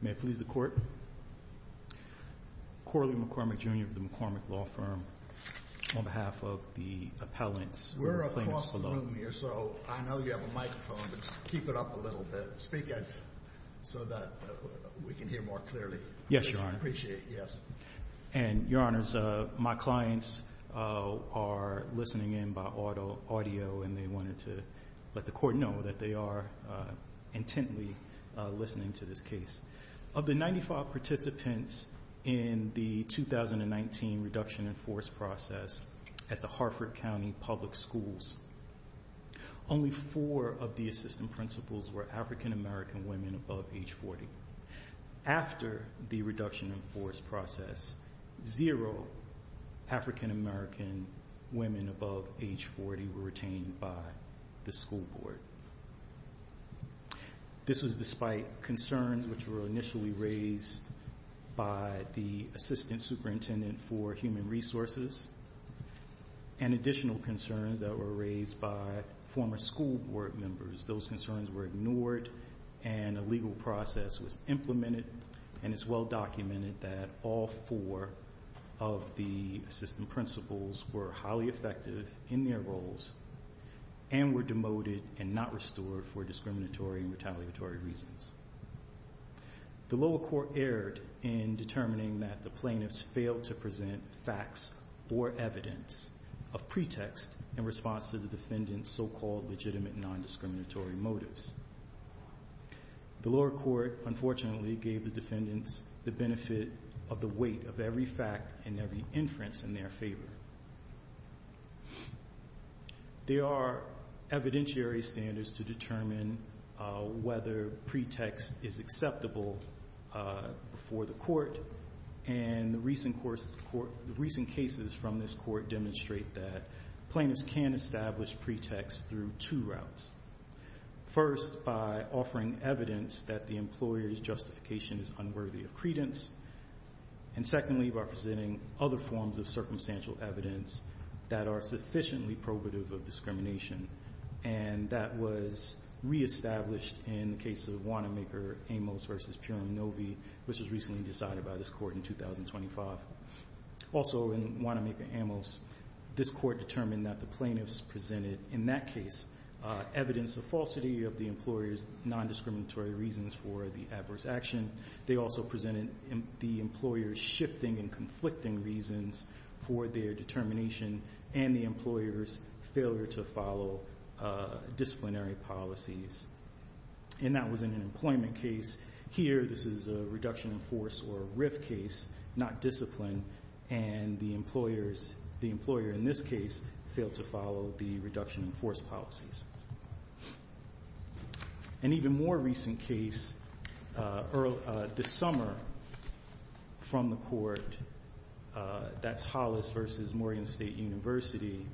May it please the Court. Corley McCormick, Jr. of the McCormick Law Firm, on behalf of the appellants. We're across the room here, so I know you have a microphone, but keep it up a little bit. Speak so that we can hear more clearly. Yes, Your Honor. I appreciate it, yes. And, Your Honors, my clients are listening in by audio, and they wanted to let the Court know that they are intently listening to this case. Of the 95 participants in the 2019 reduction in force process at the Harford County Public Schools, only four of the assistant principals were African American women above age 40. After the reduction in force process, zero African American women above age 40 were retained by the school board. This was despite concerns which were initially raised by the assistant superintendent for human resources and additional concerns that were raised by former school board members. Those concerns were ignored, and a legal process was implemented, and it's well documented that all four of the assistant principals were highly effective in their roles and were demoted and not restored for discriminatory and retaliatory reasons. The lower court erred in determining that the plaintiffs failed to present facts or evidence of pretext in response to the defendant's so-called legitimate nondiscriminatory motives. The lower court, unfortunately, gave the defendants the benefit of the weight of every fact and every inference in their favor. There are evidentiary standards to determine whether pretext is acceptable before the court, and the recent cases from this court demonstrate that plaintiffs can establish pretext through two routes. First, by offering evidence that the employer's justification is unworthy of credence, and secondly, by presenting other forms of circumstantial evidence that are sufficiently probative of discrimination, and that was reestablished in the case of Wanamaker-Amos v. Purim-Novy, which was recently decided by this court in 2025. Also, in Wanamaker-Amos, this court determined that the plaintiffs presented, in that case, evidence of falsity of the employer's nondiscriminatory reasons for the adverse action. They also presented the employer's shifting and conflicting reasons for their determination and the employer's failure to follow disciplinary policies, and that was in an employment case. Here, this is a reduction in force or a RIF case, not discipline, and the employer, in this case, failed to follow the reduction in force policies. An even more recent case, this summer, from the court, that's Hollis v. Morgan State University,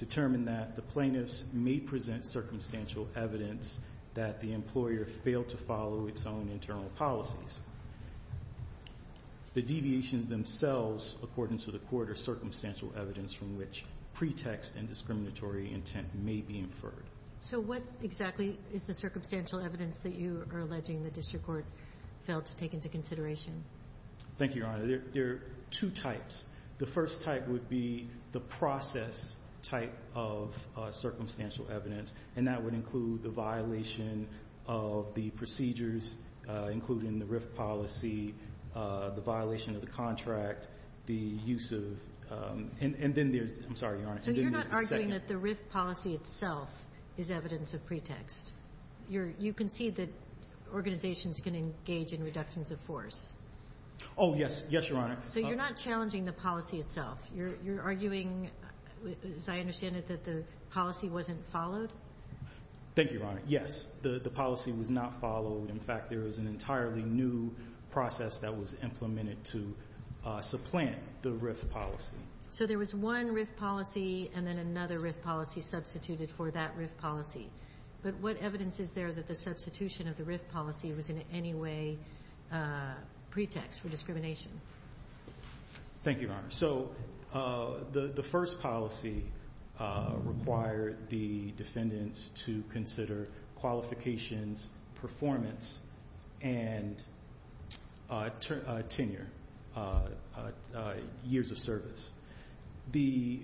determined that the plaintiffs may present circumstantial evidence that the employer failed to follow its own internal policies. The deviations themselves, according to the court, are circumstantial evidence from which pretext and discriminatory intent may be inferred. So what exactly is the circumstantial evidence that you are alleging the district court failed to take into consideration? Thank you, Your Honor. There are two types. The first type would be the process type of circumstantial evidence, and that would include the violation of the procedures, including the RIF policy, the violation of the contract, the use of the – and then there's – I'm sorry, Your Honor. So you're not arguing that the RIF policy itself is evidence of pretext? You're – you concede that organizations can engage in reductions of force? Oh, yes. Yes, Your Honor. So you're not challenging the policy itself? You're arguing, as I understand it, that the policy wasn't followed? Thank you, Your Honor. Yes. The policy was not followed. In fact, there was an entirely new process that was implemented to supplant the RIF policy. So there was one RIF policy and then another RIF policy substituted for that RIF policy. But what evidence is there that the substitution of the RIF policy was in any way pretext for discrimination? Thank you, Your Honor. So the first policy required the defendants to consider qualifications, performance, and tenure, years of service. The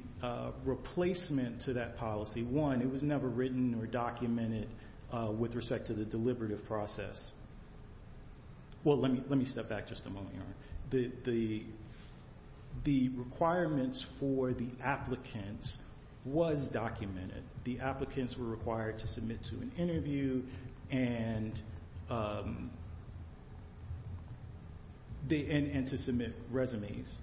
replacement to that policy, one, it was never written or documented with respect to the deliberative process. Well, let me step back just a moment, Your Honor. The requirements for the applicants was documented. The applicants were required to submit to an interview and to submit resumes.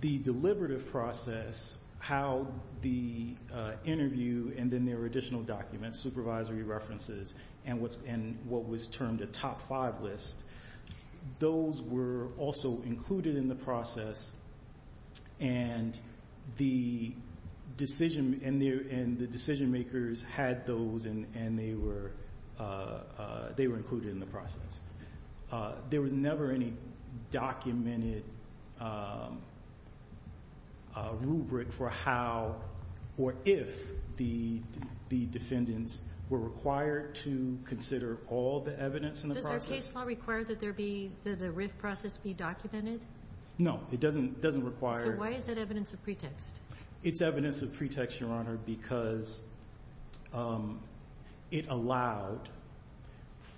The deliberative process, how the interview and then there were additional documents, supervisory references, and what was termed those were also included in the process and the decision makers had those and they were included in the process. There was never any documented rubric for how or if the defendants were required to consider all the evidence in the process. Does our case law require that there be, that the RIF process be documented? No, it doesn't require. So why is that evidence of pretext? It's evidence of pretext, Your Honor, because it allowed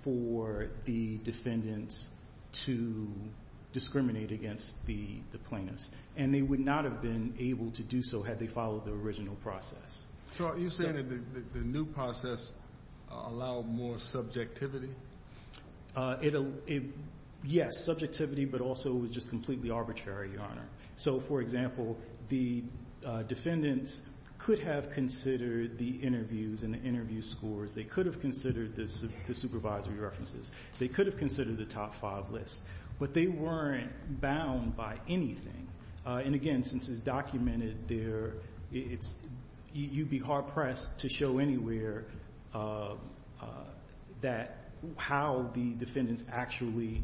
for the defendants to discriminate against the plaintiffs. And they would not have been able to do so had they followed the original process. So are you saying that the new process allowed more subjectivity? Yes, subjectivity, but also it was just completely arbitrary, Your Honor. So, for example, the defendants could have considered the interviews and the interview scores. They could have considered the supervisory references. They could have considered the top five lists, but they weren't bound by anything. And, again, since it's documented, you'd be hard-pressed to show anywhere how the defendants actually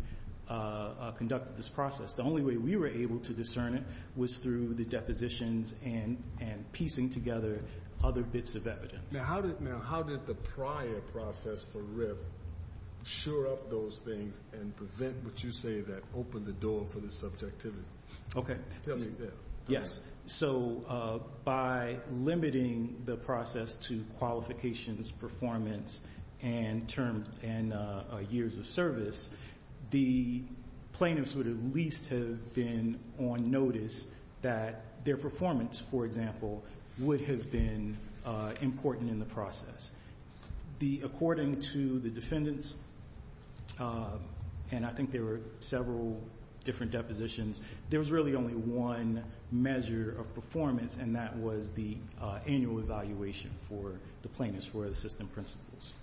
conducted this process. The only way we were able to discern it was through the depositions and piecing together other bits of evidence. Now, how did the prior process for RIF sure up those things and prevent what you say that opened the door for the subjectivity? Okay. Yes. So by limiting the process to qualifications, performance, and years of service, the plaintiffs would at least have been on notice that their performance, for example, would have been important in the process. According to the defendants, and I think there were several different depositions, there was really only one measure of performance, and that was the annual evaluation for the plaintiffs for assistant principals.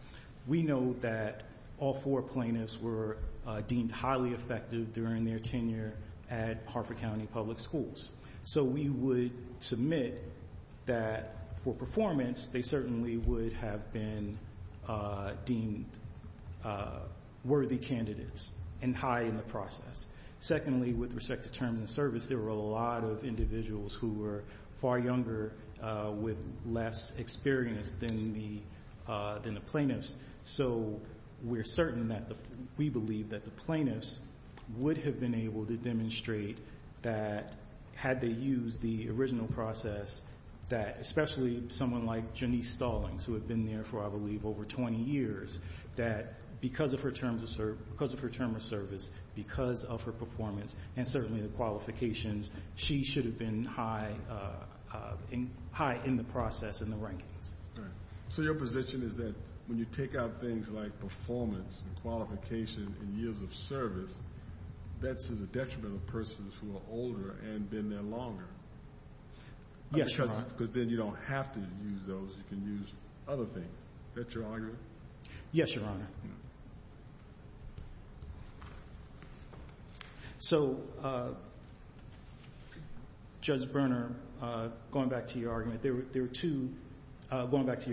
We know that all four plaintiffs were deemed highly effective during their tenure at Harford County Public Schools. So we would submit that for performance, they certainly would have been deemed worthy candidates and high in the process. Secondly, with respect to terms of service, there were a lot of individuals who were far younger with less experience than the plaintiffs. So we're certain that we believe that the plaintiffs would have been able to demonstrate that had they used the original process, that especially someone like Janice Stallings, who had been there for, I believe, over 20 years, that because of her terms of service, because of her performance, and certainly the qualifications, she should have been high in the process in the rankings. All right. So your position is that when you take out things like performance and qualification and years of service, that's to the detriment of persons who are older and been there longer? Yes, Your Honor. Because then you don't have to use those. You can use other things. Is that your argument? Yes, Your Honor. So, Judge Berner, going back to your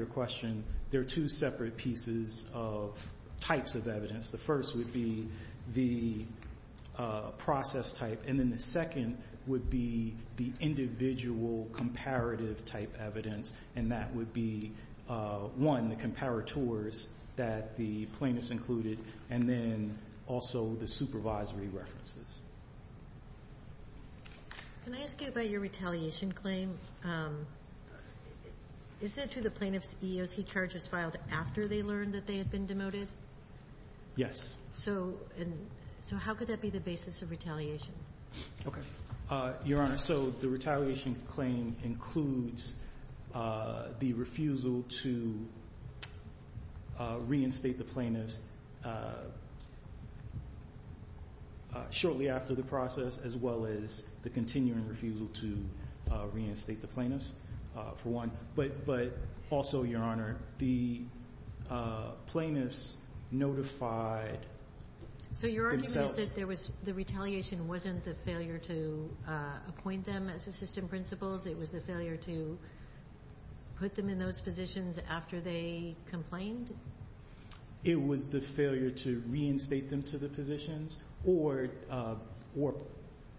question, there are two separate pieces of types of evidence. The first would be the process type, and then the second would be the individual comparative type evidence, and that would be, one, the comparators that the plaintiffs included, and then also the supervisory references. Can I ask you about your retaliation claim? Is it true the plaintiff's EEOC charges filed after they learned that they had been demoted? Yes. So how could that be the basis of retaliation? Okay. Your Honor, so the retaliation claim includes the refusal to reinstate the plaintiffs shortly after the process, as well as the continuing refusal to reinstate the plaintiffs, for one. But also, Your Honor, the plaintiffs notified themselves. So your argument is that there was the retaliation wasn't the failure to appoint them as assistant principals. It was the failure to put them in those positions after they complained? It was the failure to reinstate them to the positions or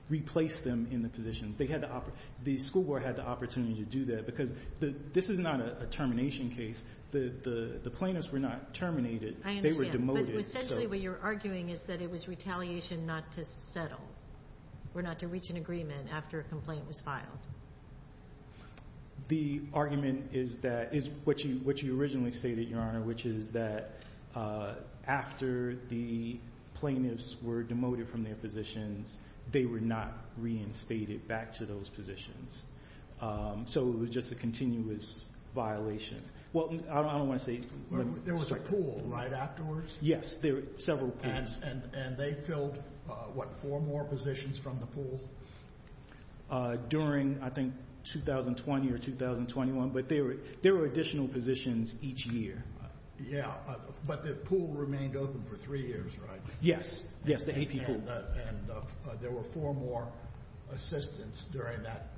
replace them in the positions. They had to operate. The school board had the opportunity to do that, because this is not a termination case. The plaintiffs were not terminated. I understand. They were demoted. But essentially, what you're arguing is that it was retaliation not to settle, or not to reach an agreement, after a complaint was filed. The argument is what you originally stated, Your Honor, which is that after the plaintiffs were demoted from their positions, they were not reinstated back to those positions. So it was just a continuous violation. Well, I don't want to say – There was a pool, right, afterwards? Yes. There were several pools. And they filled, what, four more positions from the pool? During, I think, 2020 or 2021. But there were additional positions each year. Yeah. But the pool remained open for three years, right? Yes. Yes, the AP pool. And there were four more assistants during that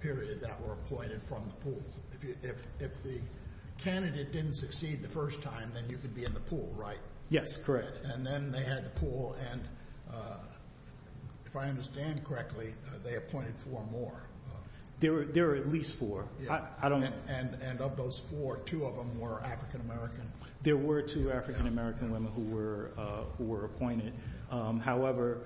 period that were appointed from the pool. If the candidate didn't succeed the first time, then you could be in the pool, right? Yes, correct. And then they had the pool. And if I understand correctly, they appointed four more. There were at least four. And of those four, two of them were African American. There were two African American women who were appointed. However,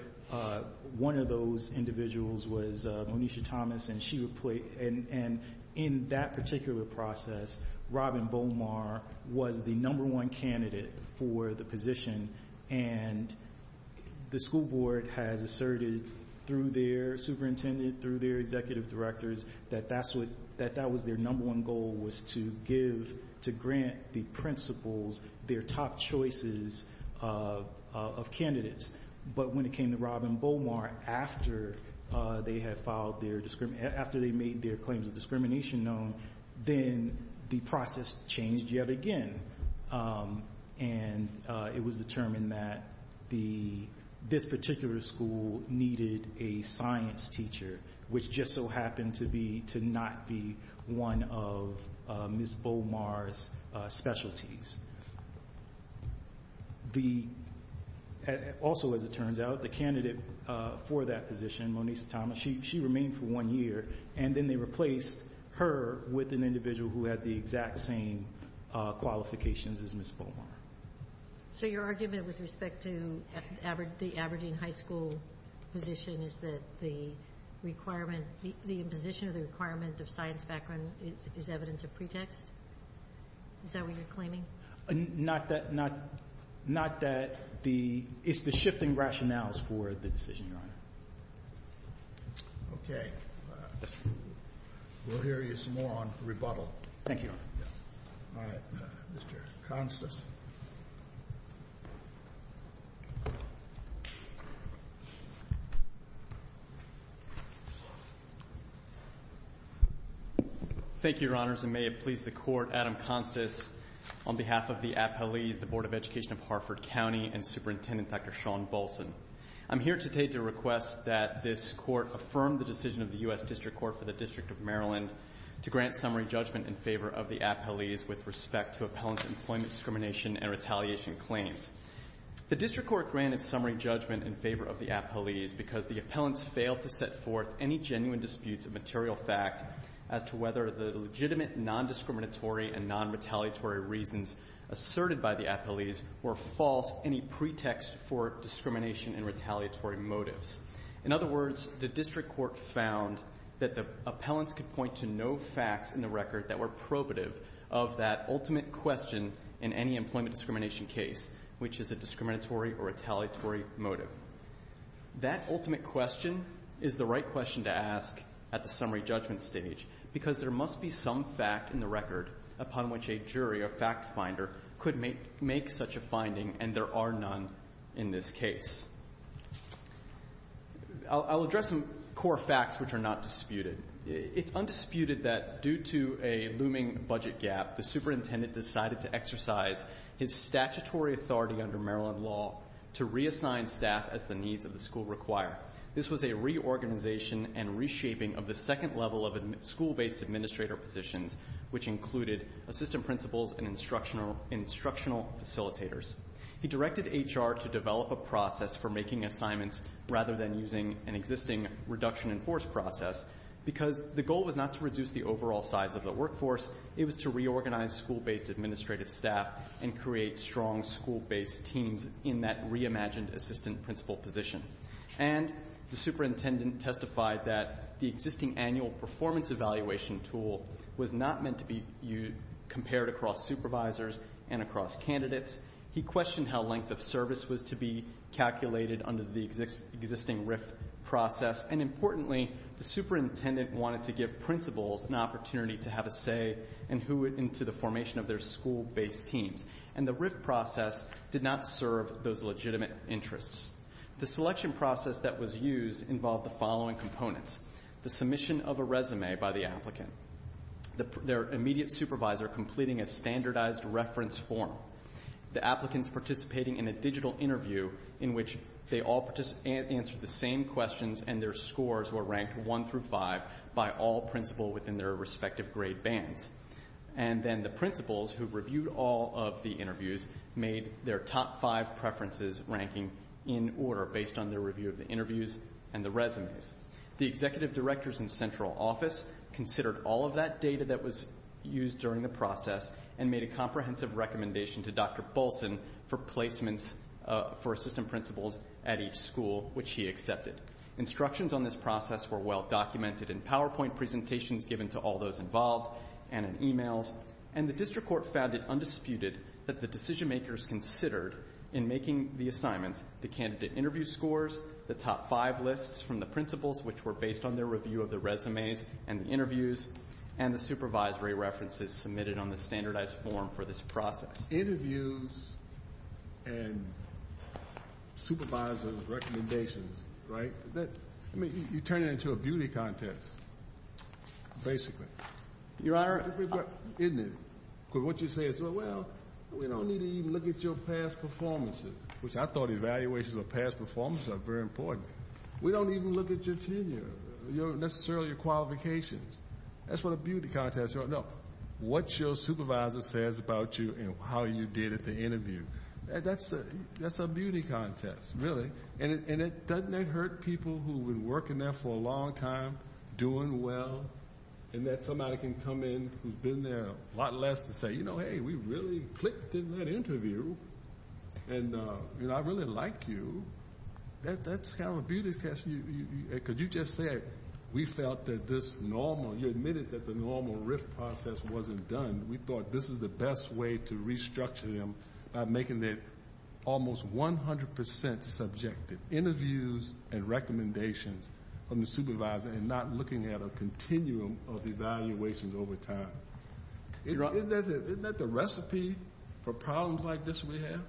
one of those individuals was Monisha Thomas. And in that particular process, Robin Beaumar was the number one candidate for the position. And the school board has asserted through their superintendent, through their executive directors, that that was their number one goal, was to grant the principals their top choices of candidates. But when it came to Robin Beaumar, after they made their claims of discrimination known, then the process changed yet again. And it was determined that this particular school needed a science teacher, which just so happened to not be one of Ms. Beaumar's specialties. Also, as it turns out, the candidate for that position, Monisha Thomas, she remained for one year, and then they replaced her with an individual who had the exact same qualifications as Ms. Beaumar. So your argument with respect to the Aberdeen High School position is that the requirement, the imposition of the requirement of science background is evidence of pretext? Is that what you're claiming? Not that the ñ it's the shifting rationales for the decision, Your Honor. Okay. We'll hear you some more on rebuttal. Thank you, Your Honor. All right. Mr. Constance. Thank you, Your Honors. And may it please the Court, Adam Constance, on behalf of the appellees, the Board of Education of Hartford County, and Superintendent Dr. Sean Bolson. I'm here today to request that this Court affirm the decision of the U.S. District Court for the District of Maryland to grant summary judgment in favor of the appellees with respect to appellant employment discrimination and retaliation claims. The District Court granted summary judgment in favor of the appellees because the appellants failed to set forth any genuine disputes of material fact as to whether the legitimate non-discriminatory and non-retaliatory reasons asserted by the appellees were false, any pretext for discrimination and retaliatory motives. In other words, the District Court found that the appellants could point to no facts in the record that were probative of that ultimate question in any employment discrimination case, which is a discriminatory or retaliatory motive. That ultimate question is the right question to ask at the summary judgment stage because there must be some fact in the record upon which a jury or fact finder could make such a finding and there are none in this case. I'll address some core facts which are not disputed. It's undisputed that due to a looming budget gap, the Superintendent decided to exercise his statutory authority under Maryland law to reassign staff as the needs of the school require. This was a reorganization and reshaping of the second level of school-based administrator positions, which included assistant principals and instructional facilitators. He directed HR to develop a process for making assignments rather than using an existing reduction-in-force process because the goal was not to reduce the overall size of the workforce, it was to reorganize school-based administrative staff and create strong school-based teams in that reimagined assistant principal position. And the Superintendent testified that the existing annual performance evaluation tool was not meant to be compared across supervisors and across candidates. He questioned how length of service was to be calculated under the existing RIFT process. And importantly, the Superintendent wanted to give principals an opportunity to have a say in who went into the formation of their school-based teams. And the RIFT process did not serve those legitimate interests. The selection process that was used involved the following components. The submission of a resume by the applicant. Their immediate supervisor completing a standardized reference form. The applicants participating in a digital interview in which they all answered the same questions and their scores were ranked one through five by all principal within their respective grade bands. And then the principals who reviewed all of the interviews made their top five preferences ranking in order based on their review of the interviews and the resumes. The Executive Directors in Central Office considered all of that data that was used during the process and made a comprehensive recommendation to Dr. Bolson for placements for assistant principals at each school, which he accepted. Instructions on this process were well documented in PowerPoint presentations given to all those involved and in emails. And the District Court found it undisputed that the decision makers considered in making the assignments the candidate interview scores, the top five lists from the principals which were based on their review of the resumes and the interviews, and the supervisory references submitted on the standardized form for this process. Interviews and supervisor's recommendations, right? You turn it into a beauty contest, basically. Your Honor. Isn't it? Because what you say is, well, we don't need to even look at your past performances, which I thought evaluations of past performances are very important. We don't even look at your tenure, necessarily your qualifications. That's what a beauty contest is. No, what your supervisor says about you and how you did at the interview. That's a beauty contest, really. And doesn't that hurt people who have been working there for a long time, doing well, and that somebody can come in who's been there a lot less to say, you know, hey, we really clicked in that interview. And, you know, I really like you. That's kind of a beauty contest because you just said we felt that this normal, you admitted that the normal RIF process wasn't done. We thought this is the best way to restructure them by making it almost 100% subjective, interviews and recommendations from the supervisor and not looking at a continuum of evaluations over time. Isn't that the recipe for problems like this we have?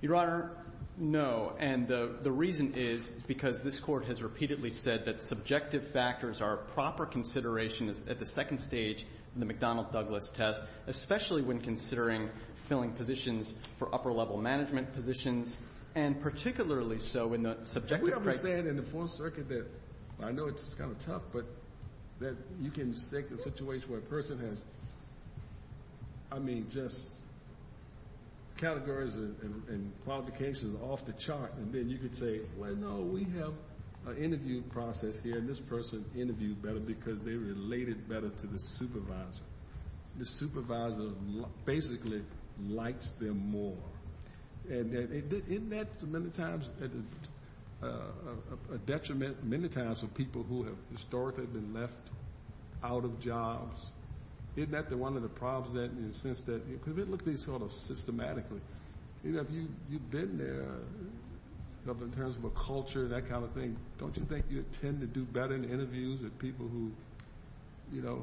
Your Honor, no. And the reason is because this Court has repeatedly said that subjective factors are proper considerations at the second stage in the McDonnell-Douglas test, especially when considering filling positions for upper-level management positions, and particularly so in the subjective criteria. We have a saying in the Fourth Circuit that I know it's kind of tough, but that you can take a situation where a person has, I mean, just categories and qualifications off the chart, and then you can say, well, no, we have an interview process here, and this person interviewed better because they related better to the supervisor. The supervisor basically likes them more. And isn't that many times a detriment, many times, for people who have historically been left out of jobs? Isn't that one of the problems in the sense that if you look at these sort of systematically, you know, if you've been there in terms of a culture, that kind of thing, don't you think you tend to do better in interviews with people who, you know,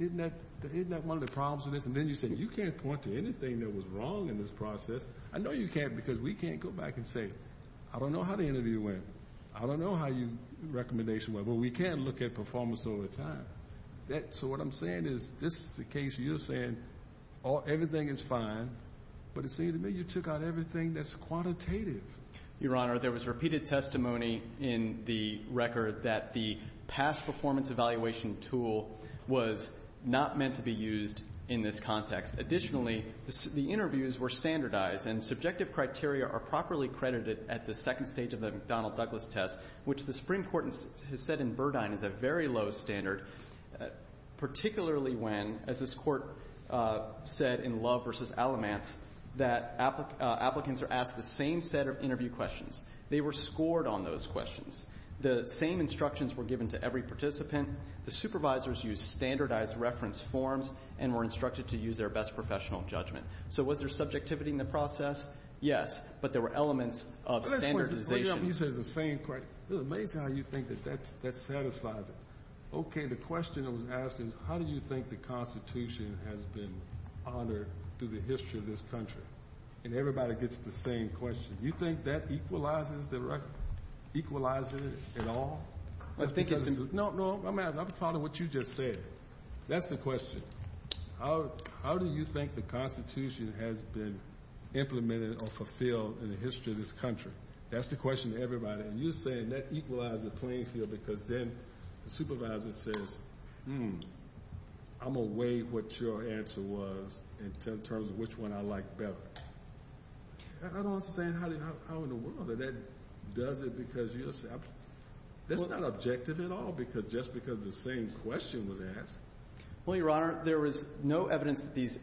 isn't that one of the problems with this? And then you say, you can't point to anything that was wrong in this process. I know you can't because we can't go back and say, I don't know how the interview went. I don't know how your recommendation went. Well, we can look at performance over time. So what I'm saying is this is the case where you're saying everything is fine, but it seems to me you took out everything that's quantitative. Your Honor, there was repeated testimony in the record that the past performance evaluation tool was not meant to be used in this context. Additionally, the interviews were standardized, and subjective criteria are properly credited at the second stage of the McDonnell-Douglas test, which the Supreme Court has said in Burdine is a very low standard, particularly when, as this Court said in Love v. Alamance, that applicants are asked the same set of interview questions. They were scored on those questions. The same instructions were given to every participant. The supervisors used standardized reference forms and were instructed to use their best professional judgment. So was there subjectivity in the process? Yes. But there were elements of standardization. You said the same question. It's amazing how you think that that satisfies it. Okay, the question that was asked is, how do you think the Constitution has been honored through the history of this country? And everybody gets the same question. You think that equalizes the record? Equalizes it at all? No, no, I'm following what you just said. That's the question. How do you think the Constitution has been implemented or fulfilled in the history of this country? That's the question to everybody. And you're saying that equalizes the playing field because then the supervisor says, hmm, I'm going to weigh what your answer was in terms of which one I like better. I don't understand how in the world that that does it because you're saying... That's not objective at all just because the same question was asked. Well, Your Honor, there was no evidence that these...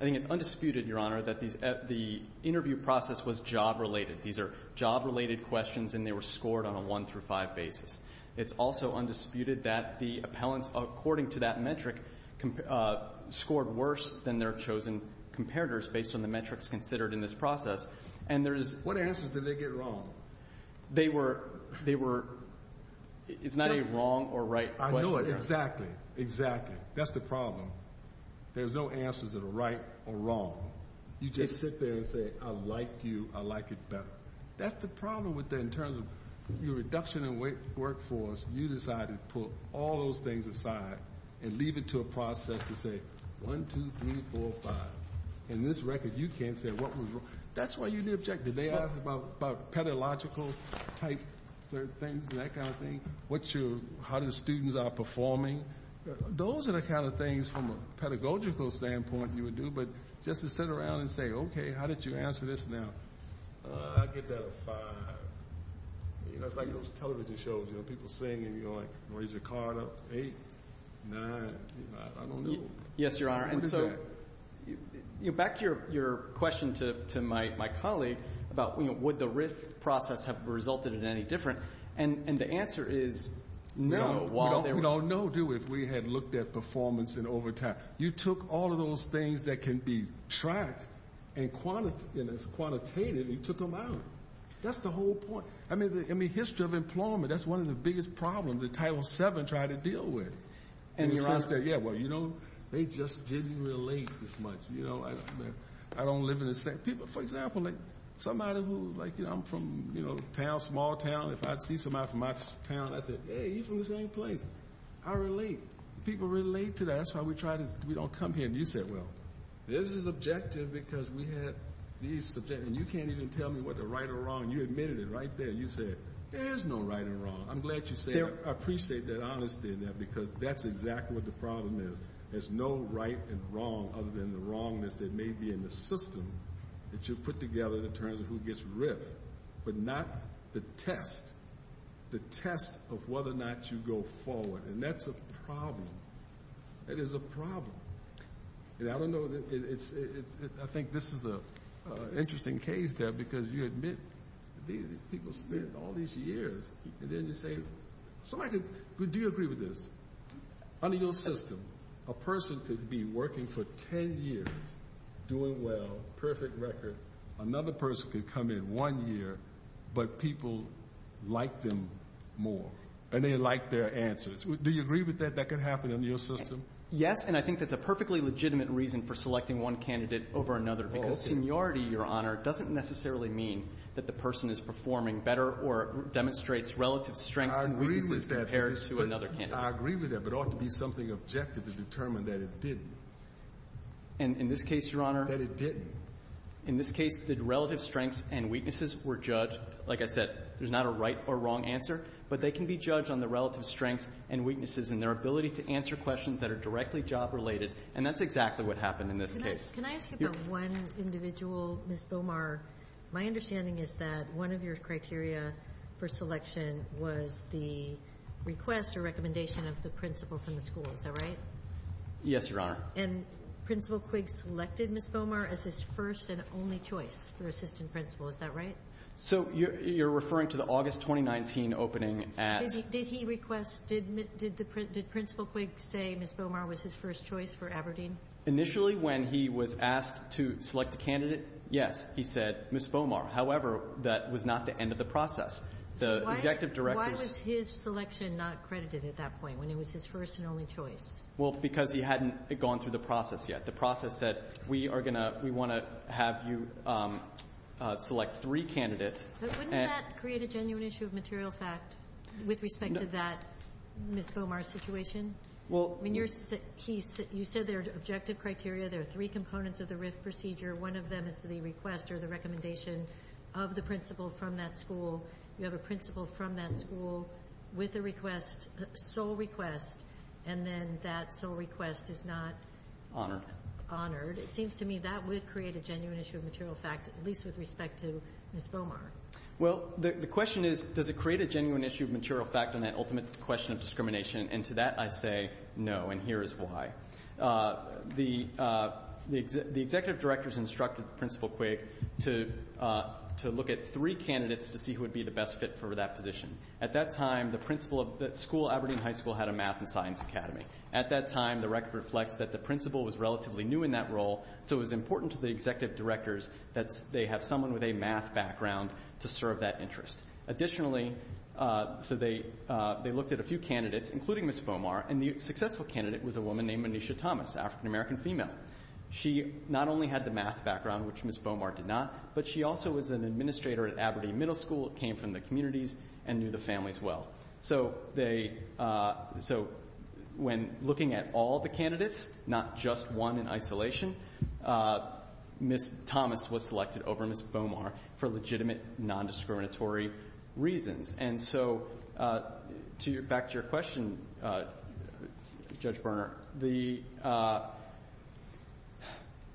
I think it's undisputed, Your Honor, that the interview process was job-related. These are job-related questions, and they were scored on a one-through-five basis. It's also undisputed that the appellants, according to that metric, scored worse than their chosen comparators based on the metrics considered in this process. And there is... What answers did they get wrong? They were... It's not a wrong or right question. Exactly, exactly. That's the problem. There's no answers that are right or wrong. You just sit there and say, I like you, I like it better. That's the problem with that in terms of your reduction in workforce. You decided to put all those things aside and leave it to a process to say, one, two, three, four, five. In this record, you can't say what was wrong. That's why you didn't object. Did they ask about pedagogical type things and that kind of thing, how the students are performing? Those are the kind of things from a pedagogical standpoint you would do, but just to sit around and say, okay, how did you answer this now? I'll give that a five. You know, it's like those television shows, you know, people sing, and you're like, raise your card up, eight, nine. I don't know. Yes, Your Honor. Back to your question to my colleague about, you know, would the RIF process have resulted in any different? And the answer is no. We don't know, do we, if we had looked at performance and over time. You took all of those things that can be tracked and quantitated and you took them out. That's the whole point. I mean, history of employment, that's one of the biggest problems that Title VII tried to deal with. Yeah, well, you know, they just didn't relate as much. You know, I don't live in the same. People, for example, like somebody who, like, you know, I'm from, you know, town, small town, if I'd see somebody from my town, I'd say, hey, you're from the same place. I relate. People relate to that. That's why we try to, we don't come here and you say, well, this is objective because we had these, and you can't even tell me what the right or wrong. You admitted it right there. You said, there is no right or wrong. I'm glad you said it. I appreciate that honesty in that because that's exactly what the problem is. There's no right and wrong other than the wrongness that may be in the system that you put together in terms of who gets ripped, but not the test. The test of whether or not you go forward, and that's a problem. That is a problem. And I don't know, I think this is an interesting case there because you admit, people spend all these years, and then you say, do you agree with this? Under your system, a person could be working for ten years, doing well, perfect record, another person could come in one year, but people like them more, and they like their answers. Do you agree with that? That could happen under your system? Yes, and I think that's a perfectly legitimate reason for selecting one candidate over another because seniority, Your Honor, doesn't necessarily mean that the person is performing better or demonstrates relative strengths and weaknesses compared to another candidate. I agree with that, but it ought to be something objective to determine that it didn't. And in this case, Your Honor? That it didn't. In this case, the relative strengths and weaknesses were judged. Like I said, there's not a right or wrong answer, but they can be judged on the relative strengths and weaknesses and their ability to answer questions that are directly job-related, and that's exactly what happened in this case. Can I ask you about one individual, Ms. Bomar? My understanding is that one of your criteria for selection was the request or recommendation of the principal from the school. Is that right? Yes, Your Honor. And Principal Quigg selected Ms. Bomar as his first and only choice for assistant principal. Is that right? So you're referring to the August 2019 opening at ---- Did he request ñ did Principal Quigg say Ms. Bomar was his first choice for Aberdeen? Initially, when he was asked to select a candidate, yes. He said Ms. Bomar. However, that was not the end of the process. The objective directors ñ Why was his selection not credited at that point, when it was his first and only choice? Well, because he hadn't gone through the process yet. The process said we are going to ñ we want to have you select three candidates. But wouldn't that create a genuine issue of material fact with respect to that Ms. Bomar situation? Well ñ You said there are objective criteria. There are three components of the RIF procedure. One of them is the request or the recommendation of the principal from that school. You have a principal from that school with a request, sole request, and then that sole request is not ñ It seems to me that would create a genuine issue of material fact, at least with respect to Ms. Bomar. Well, the question is, does it create a genuine issue of material fact on that ultimate question of discrimination? And to that I say no, and here is why. The executive directors instructed Principal Quigg to look at three candidates to see who would be the best fit for that position. At that time, the principal of that school, Aberdeen High School, had a math and science academy. At that time, the record reflects that the principal was relatively new in that role, so it was important to the executive directors that they have someone with a math background to serve that interest. Additionally, so they looked at a few candidates, including Ms. Bomar, and the successful candidate was a woman named Manisha Thomas, African-American female. She not only had the math background, which Ms. Bomar did not, but she also was an administrator at Aberdeen Middle School, came from the communities, and knew the families well. So when looking at all the candidates, not just one in isolation, Ms. Thomas was And so back to your question, Judge Berner. The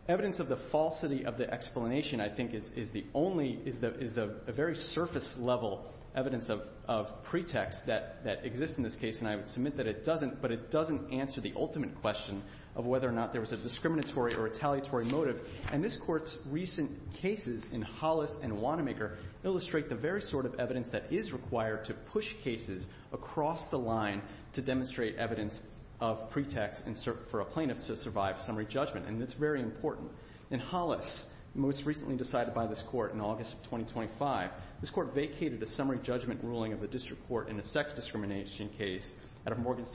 evidence of the falsity of the explanation, I think, is the only, is the very surface level evidence of pretext that exists in this case, and I would submit that it doesn't, but it doesn't answer the ultimate question of whether or not there was a discriminatory or retaliatory motive. And this Court's recent cases in Hollis and Wanamaker illustrate the very sort of evidence that is required to push cases across the line to demonstrate evidence of pretext for a plaintiff to survive summary judgment, and it's very important. In Hollis, most recently decided by this Court in August of 2025, this Court vacated a summary judgment ruling of the district court in a sex discrimination case at a Morgan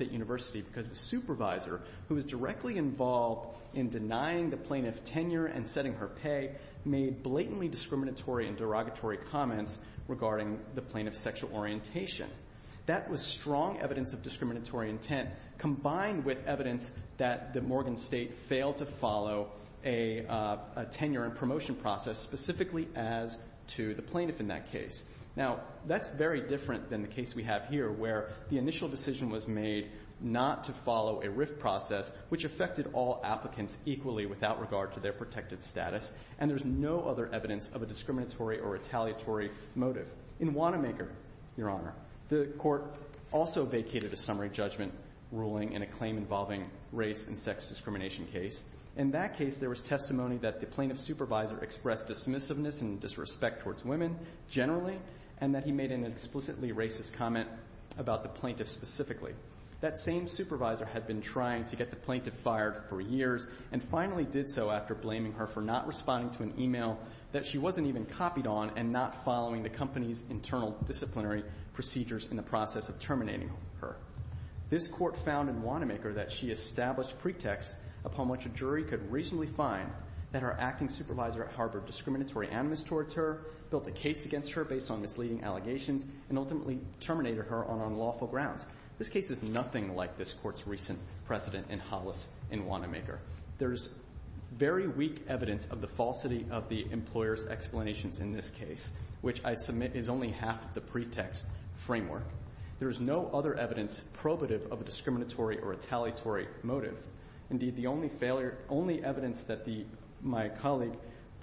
in denying the plaintiff tenure and setting her pay, made blatantly discriminatory and derogatory comments regarding the plaintiff's sexual orientation. That was strong evidence of discriminatory intent combined with evidence that the Morgan State failed to follow a tenure and promotion process, specifically as to the plaintiff in that case. Now, that's very different than the case we have here, where the initial decision was made not to follow a RIF process, which affected all applicants equally without regard to their protected status, and there's no other evidence of a discriminatory or retaliatory motive. In Wanamaker, Your Honor, the Court also vacated a summary judgment ruling in a claim involving race and sex discrimination case. In that case, there was testimony that the plaintiff's supervisor expressed dismissiveness and disrespect towards women generally, and that he made an explicitly racist comment about the plaintiff specifically. That same supervisor had been trying to get the plaintiff fired for years and finally did so after blaming her for not responding to an email that she wasn't even copied on and not following the company's internal disciplinary procedures in the process of terminating her. This Court found in Wanamaker that she established pretexts upon which a jury could reasonably find that her acting supervisor harbored discriminatory animus towards her, built a case against her based on misleading allegations, and ultimately terminated her on unlawful grounds. This case is nothing like this Court's recent precedent in Hollis in Wanamaker. There's very weak evidence of the falsity of the employer's explanations in this case, which I submit is only half of the pretext framework. There is no other evidence probative of a discriminatory or retaliatory motive. Indeed, the only failure – only evidence that the – my colleague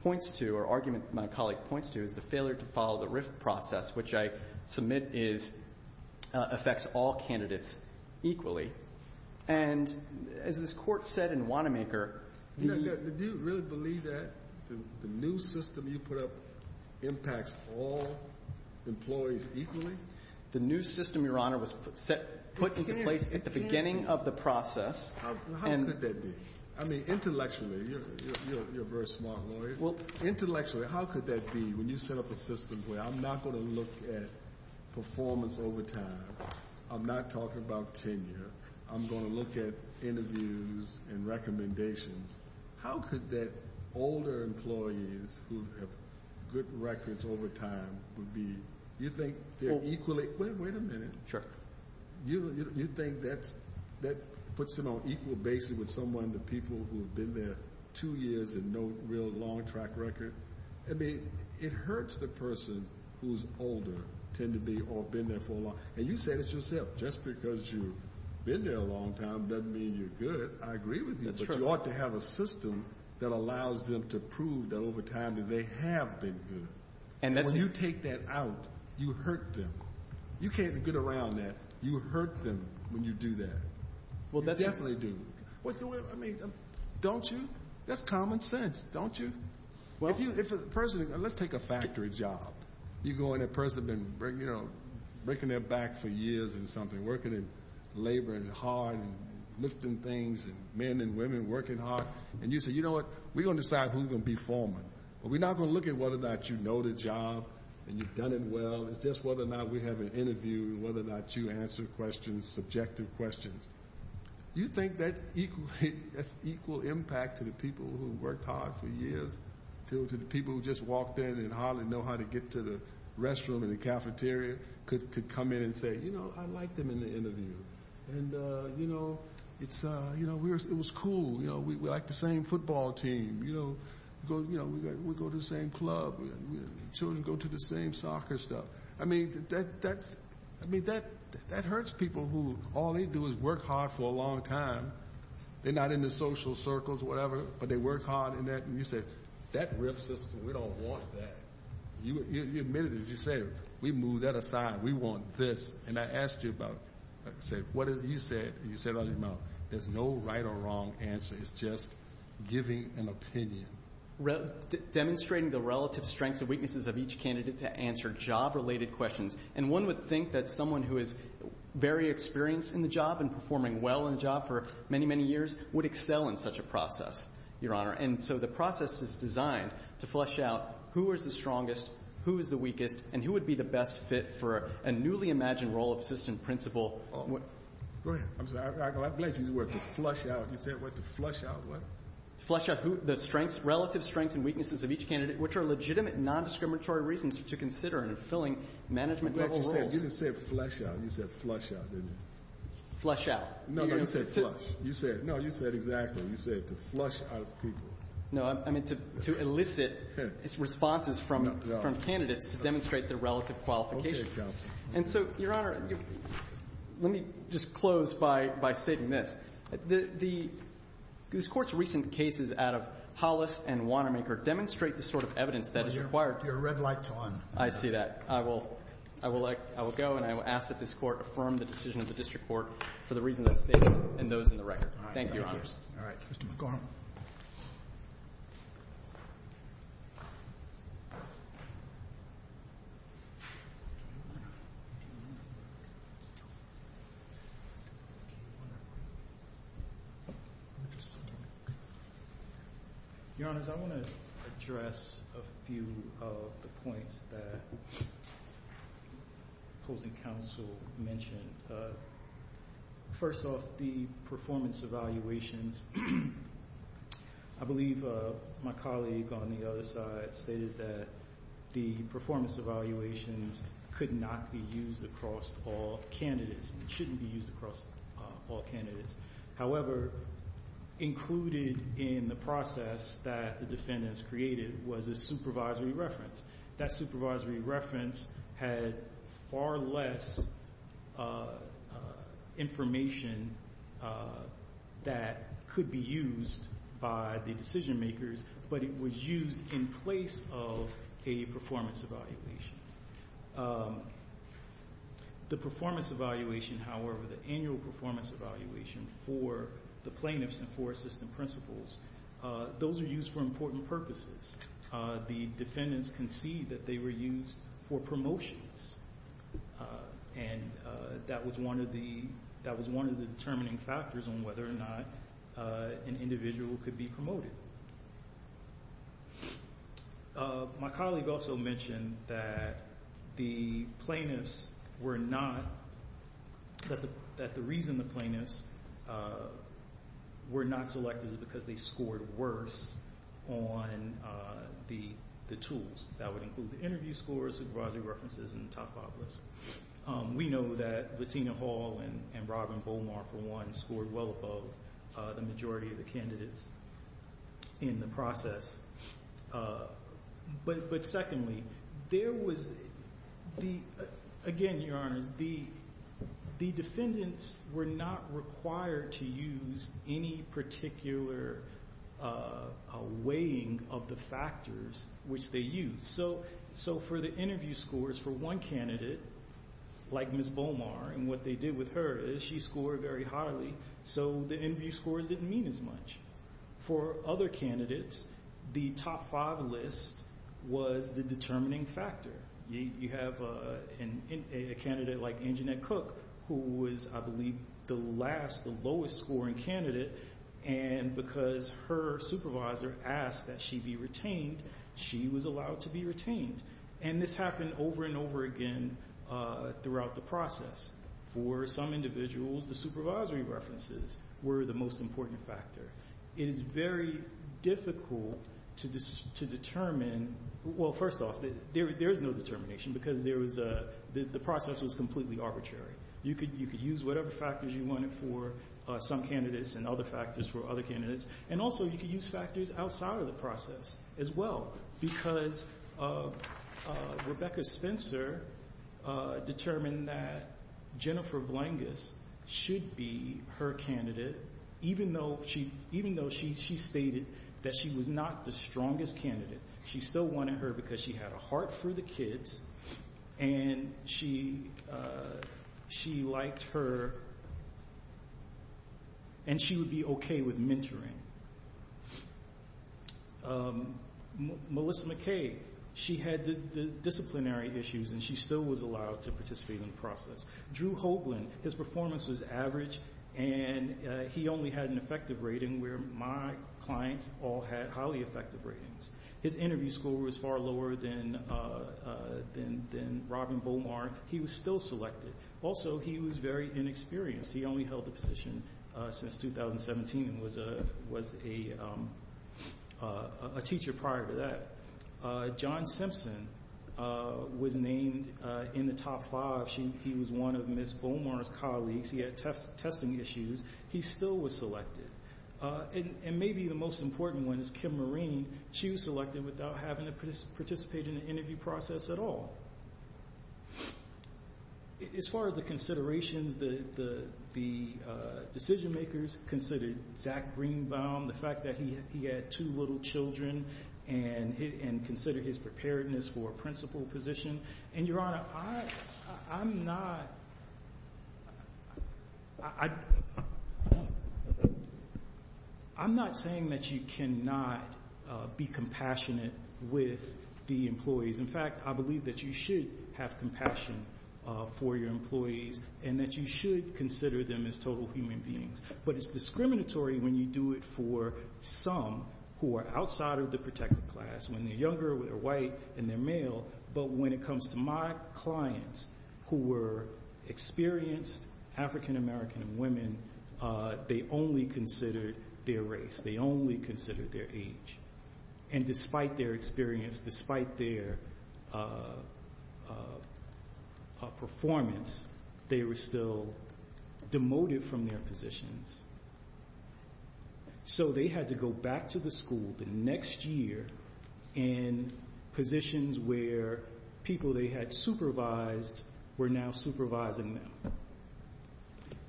points to or argument my colleague points to is the failure to follow the RIFT process, which I submit is – affects all candidates equally. And as this Court said in Wanamaker – Did you really believe that the new system you put up impacts all employees equally? The new system, Your Honor, was put into place at the beginning of the process. How could that be? I mean, intellectually, you're a very smart lawyer. Well, intellectually, how could that be? When you set up a system where I'm not going to look at performance over time, I'm not talking about tenure, I'm going to look at interviews and recommendations. How could that – older employees who have good records over time would be – you think they're equally – wait a minute. Sure. You think that's – that puts them on equal basis with someone, the people who I mean, it hurts the person who's older, tend to be, or been there for a long – and you say this yourself, just because you've been there a long time doesn't mean you're good. I agree with you. That's true. But you ought to have a system that allows them to prove that over time that they have been good. And that's – When you take that out, you hurt them. You can't get around that. You hurt them when you do that. Well, that's – You definitely do. I mean, don't you? That's common sense, don't you? Well – If a person – let's take a factory job. You go in a person that's been, you know, breaking their back for years and something, working and laboring hard and lifting things and men and women working hard, and you say, you know what, we're going to decide who's going to be foreman, but we're not going to look at whether or not you know the job and you've done it well. It's just whether or not we have an interview and whether or not you answer questions, subjective questions. You think that's equal impact to the people who worked hard for years? To the people who just walked in and hardly know how to get to the restroom in the cafeteria could come in and say, you know, I liked them in the interview. And, you know, it was cool. You know, we're like the same football team. You know, we go to the same club. Children go to the same soccer stuff. I mean, that hurts people who all they do is work hard for a long time. They're not in the social circles or whatever, but they work hard in that. And you say, that riff system, we don't want that. You admitted it. You say, we move that aside. We want this. And I asked you about it. You said it out of your mouth. There's no right or wrong answer. It's just giving an opinion. Demonstrating the relative strengths and weaknesses of each candidate to answer job-related questions. And one would think that someone who is very experienced in the job and performing well in the job for many, many years would excel in such a process, Your Honor. And so the process is designed to flush out who is the strongest, who is the weakest, and who would be the best fit for a newly imagined role of assistant principal. Go ahead. I'm sorry. I'm glad you used the word to flush out. You said it was to flush out what? Flush out the strengths, relative strengths and weaknesses of each candidate, which are legitimate non-discriminatory reasons to consider in fulfilling management-level rules. You didn't say flush out. You said flush out, didn't you? Flush out. No, no. You said flush. No, you said exactly. You said to flush out people. No, I meant to elicit responses from candidates to demonstrate their relative qualifications. Okay, counsel. And so, Your Honor, let me just close by stating this. This Court's recent cases out of Hollis and Wanamaker demonstrate the sort of evidence that is required. You're a red light to on. I see that. I will go and I will ask that this Court affirm the decision of the district court for the reasons I've stated and those in the record. Thank you, Your Honors. All right. Mr. McCormick. Your Honors, I want to address a few of the points that opposing counsel mentioned. First off, the performance evaluations, I believe my colleague on the other side stated that the performance evaluations could not be used across all candidates. It shouldn't be used across all candidates. However, included in the process that the defendants created was a supervisory reference. That supervisory reference had far less information that could be used by the decision makers, but it was used in place of a performance evaluation. The performance evaluation, however, the annual performance evaluation for the plaintiffs and for assistant principals, those are used for important purposes. The defendants concede that they were used for promotions, and that was one of the determining factors on whether or not an individual could be promoted. My colleague also mentioned that the plaintiffs were not, that the reason the plaintiffs were not selected is because they scored worse on the tools. That would include the interview scores, supervisory references, and the top five lists. We know that Latina Hall and Robin Beaumont, for one, scored well above the majority of the candidates in the process. But secondly, there was the, again, Your Honors, the defendants were not required to use any particular weighing of the factors which they used. So for the interview scores for one candidate, like Ms. Beaumont, and what they did with her is she scored very highly, so the interview scores didn't mean as much. For other candidates, the top five list was the determining factor. You have a candidate like Anjanette Cook, who was, I believe, the last, the lowest scoring candidate, and because her supervisor asked that she be retained, she was allowed to be retained. And this happened over and over again throughout the process. For some individuals, the supervisory references were the most important factor. It is very difficult to determine, well, first off, there is no determination because the process was completely arbitrary. You could use whatever factors you wanted for some candidates and other factors for other candidates, and also you could use factors outside of the process as well, because Rebecca Spencer determined that Jennifer Blangas should be her candidate, even though she stated that she was not the strongest candidate. She still wanted her because she had a heart for the kids, and she liked her, and she would be okay with mentoring. Melissa McKay, she had the disciplinary issues, and she still was allowed to participate in the process. Drew Hoagland, his performance was average, and he only had an effective rating, where my clients all had highly effective ratings. His interview score was far lower than Robin Beaumar. He was still selected. Also, he was very inexperienced. He only held the position since 2017 and was a teacher prior to that. John Simpson was named in the top five. He was one of Ms. Beaumar's colleagues. He had testing issues. He still was selected. And maybe the most important one is Kim Marine. She was selected without having to participate in the interview process at all. As far as the considerations, the decision-makers considered Zach Greenbaum, the fact that he had two little children, and considered his preparedness for a principal position. And, Your Honor, I'm not saying that you cannot be compassionate with the employees. In fact, I believe that you should have compassion for your employees and that you should consider them as total human beings. But it's discriminatory when you do it for some who are outside of the protected class, when they're younger, they're white, and they're male. But when it comes to my clients who were experienced African American women, they only considered their race. They only considered their age. And despite their experience, despite their performance, they were still demoted from their positions. So they had to go back to the school the next year in positions where people they had supervised were now supervising them.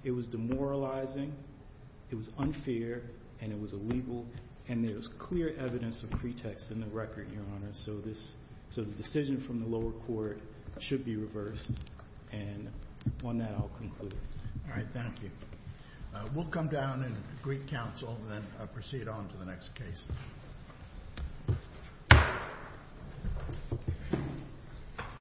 It was demoralizing. It was unfair. And it was illegal. And there's clear evidence of pretext in the record, Your Honor. So the decision from the lower court should be reversed. And on that, I'll conclude. All right. Thank you. We'll come down and greet counsel and then proceed on to the next case.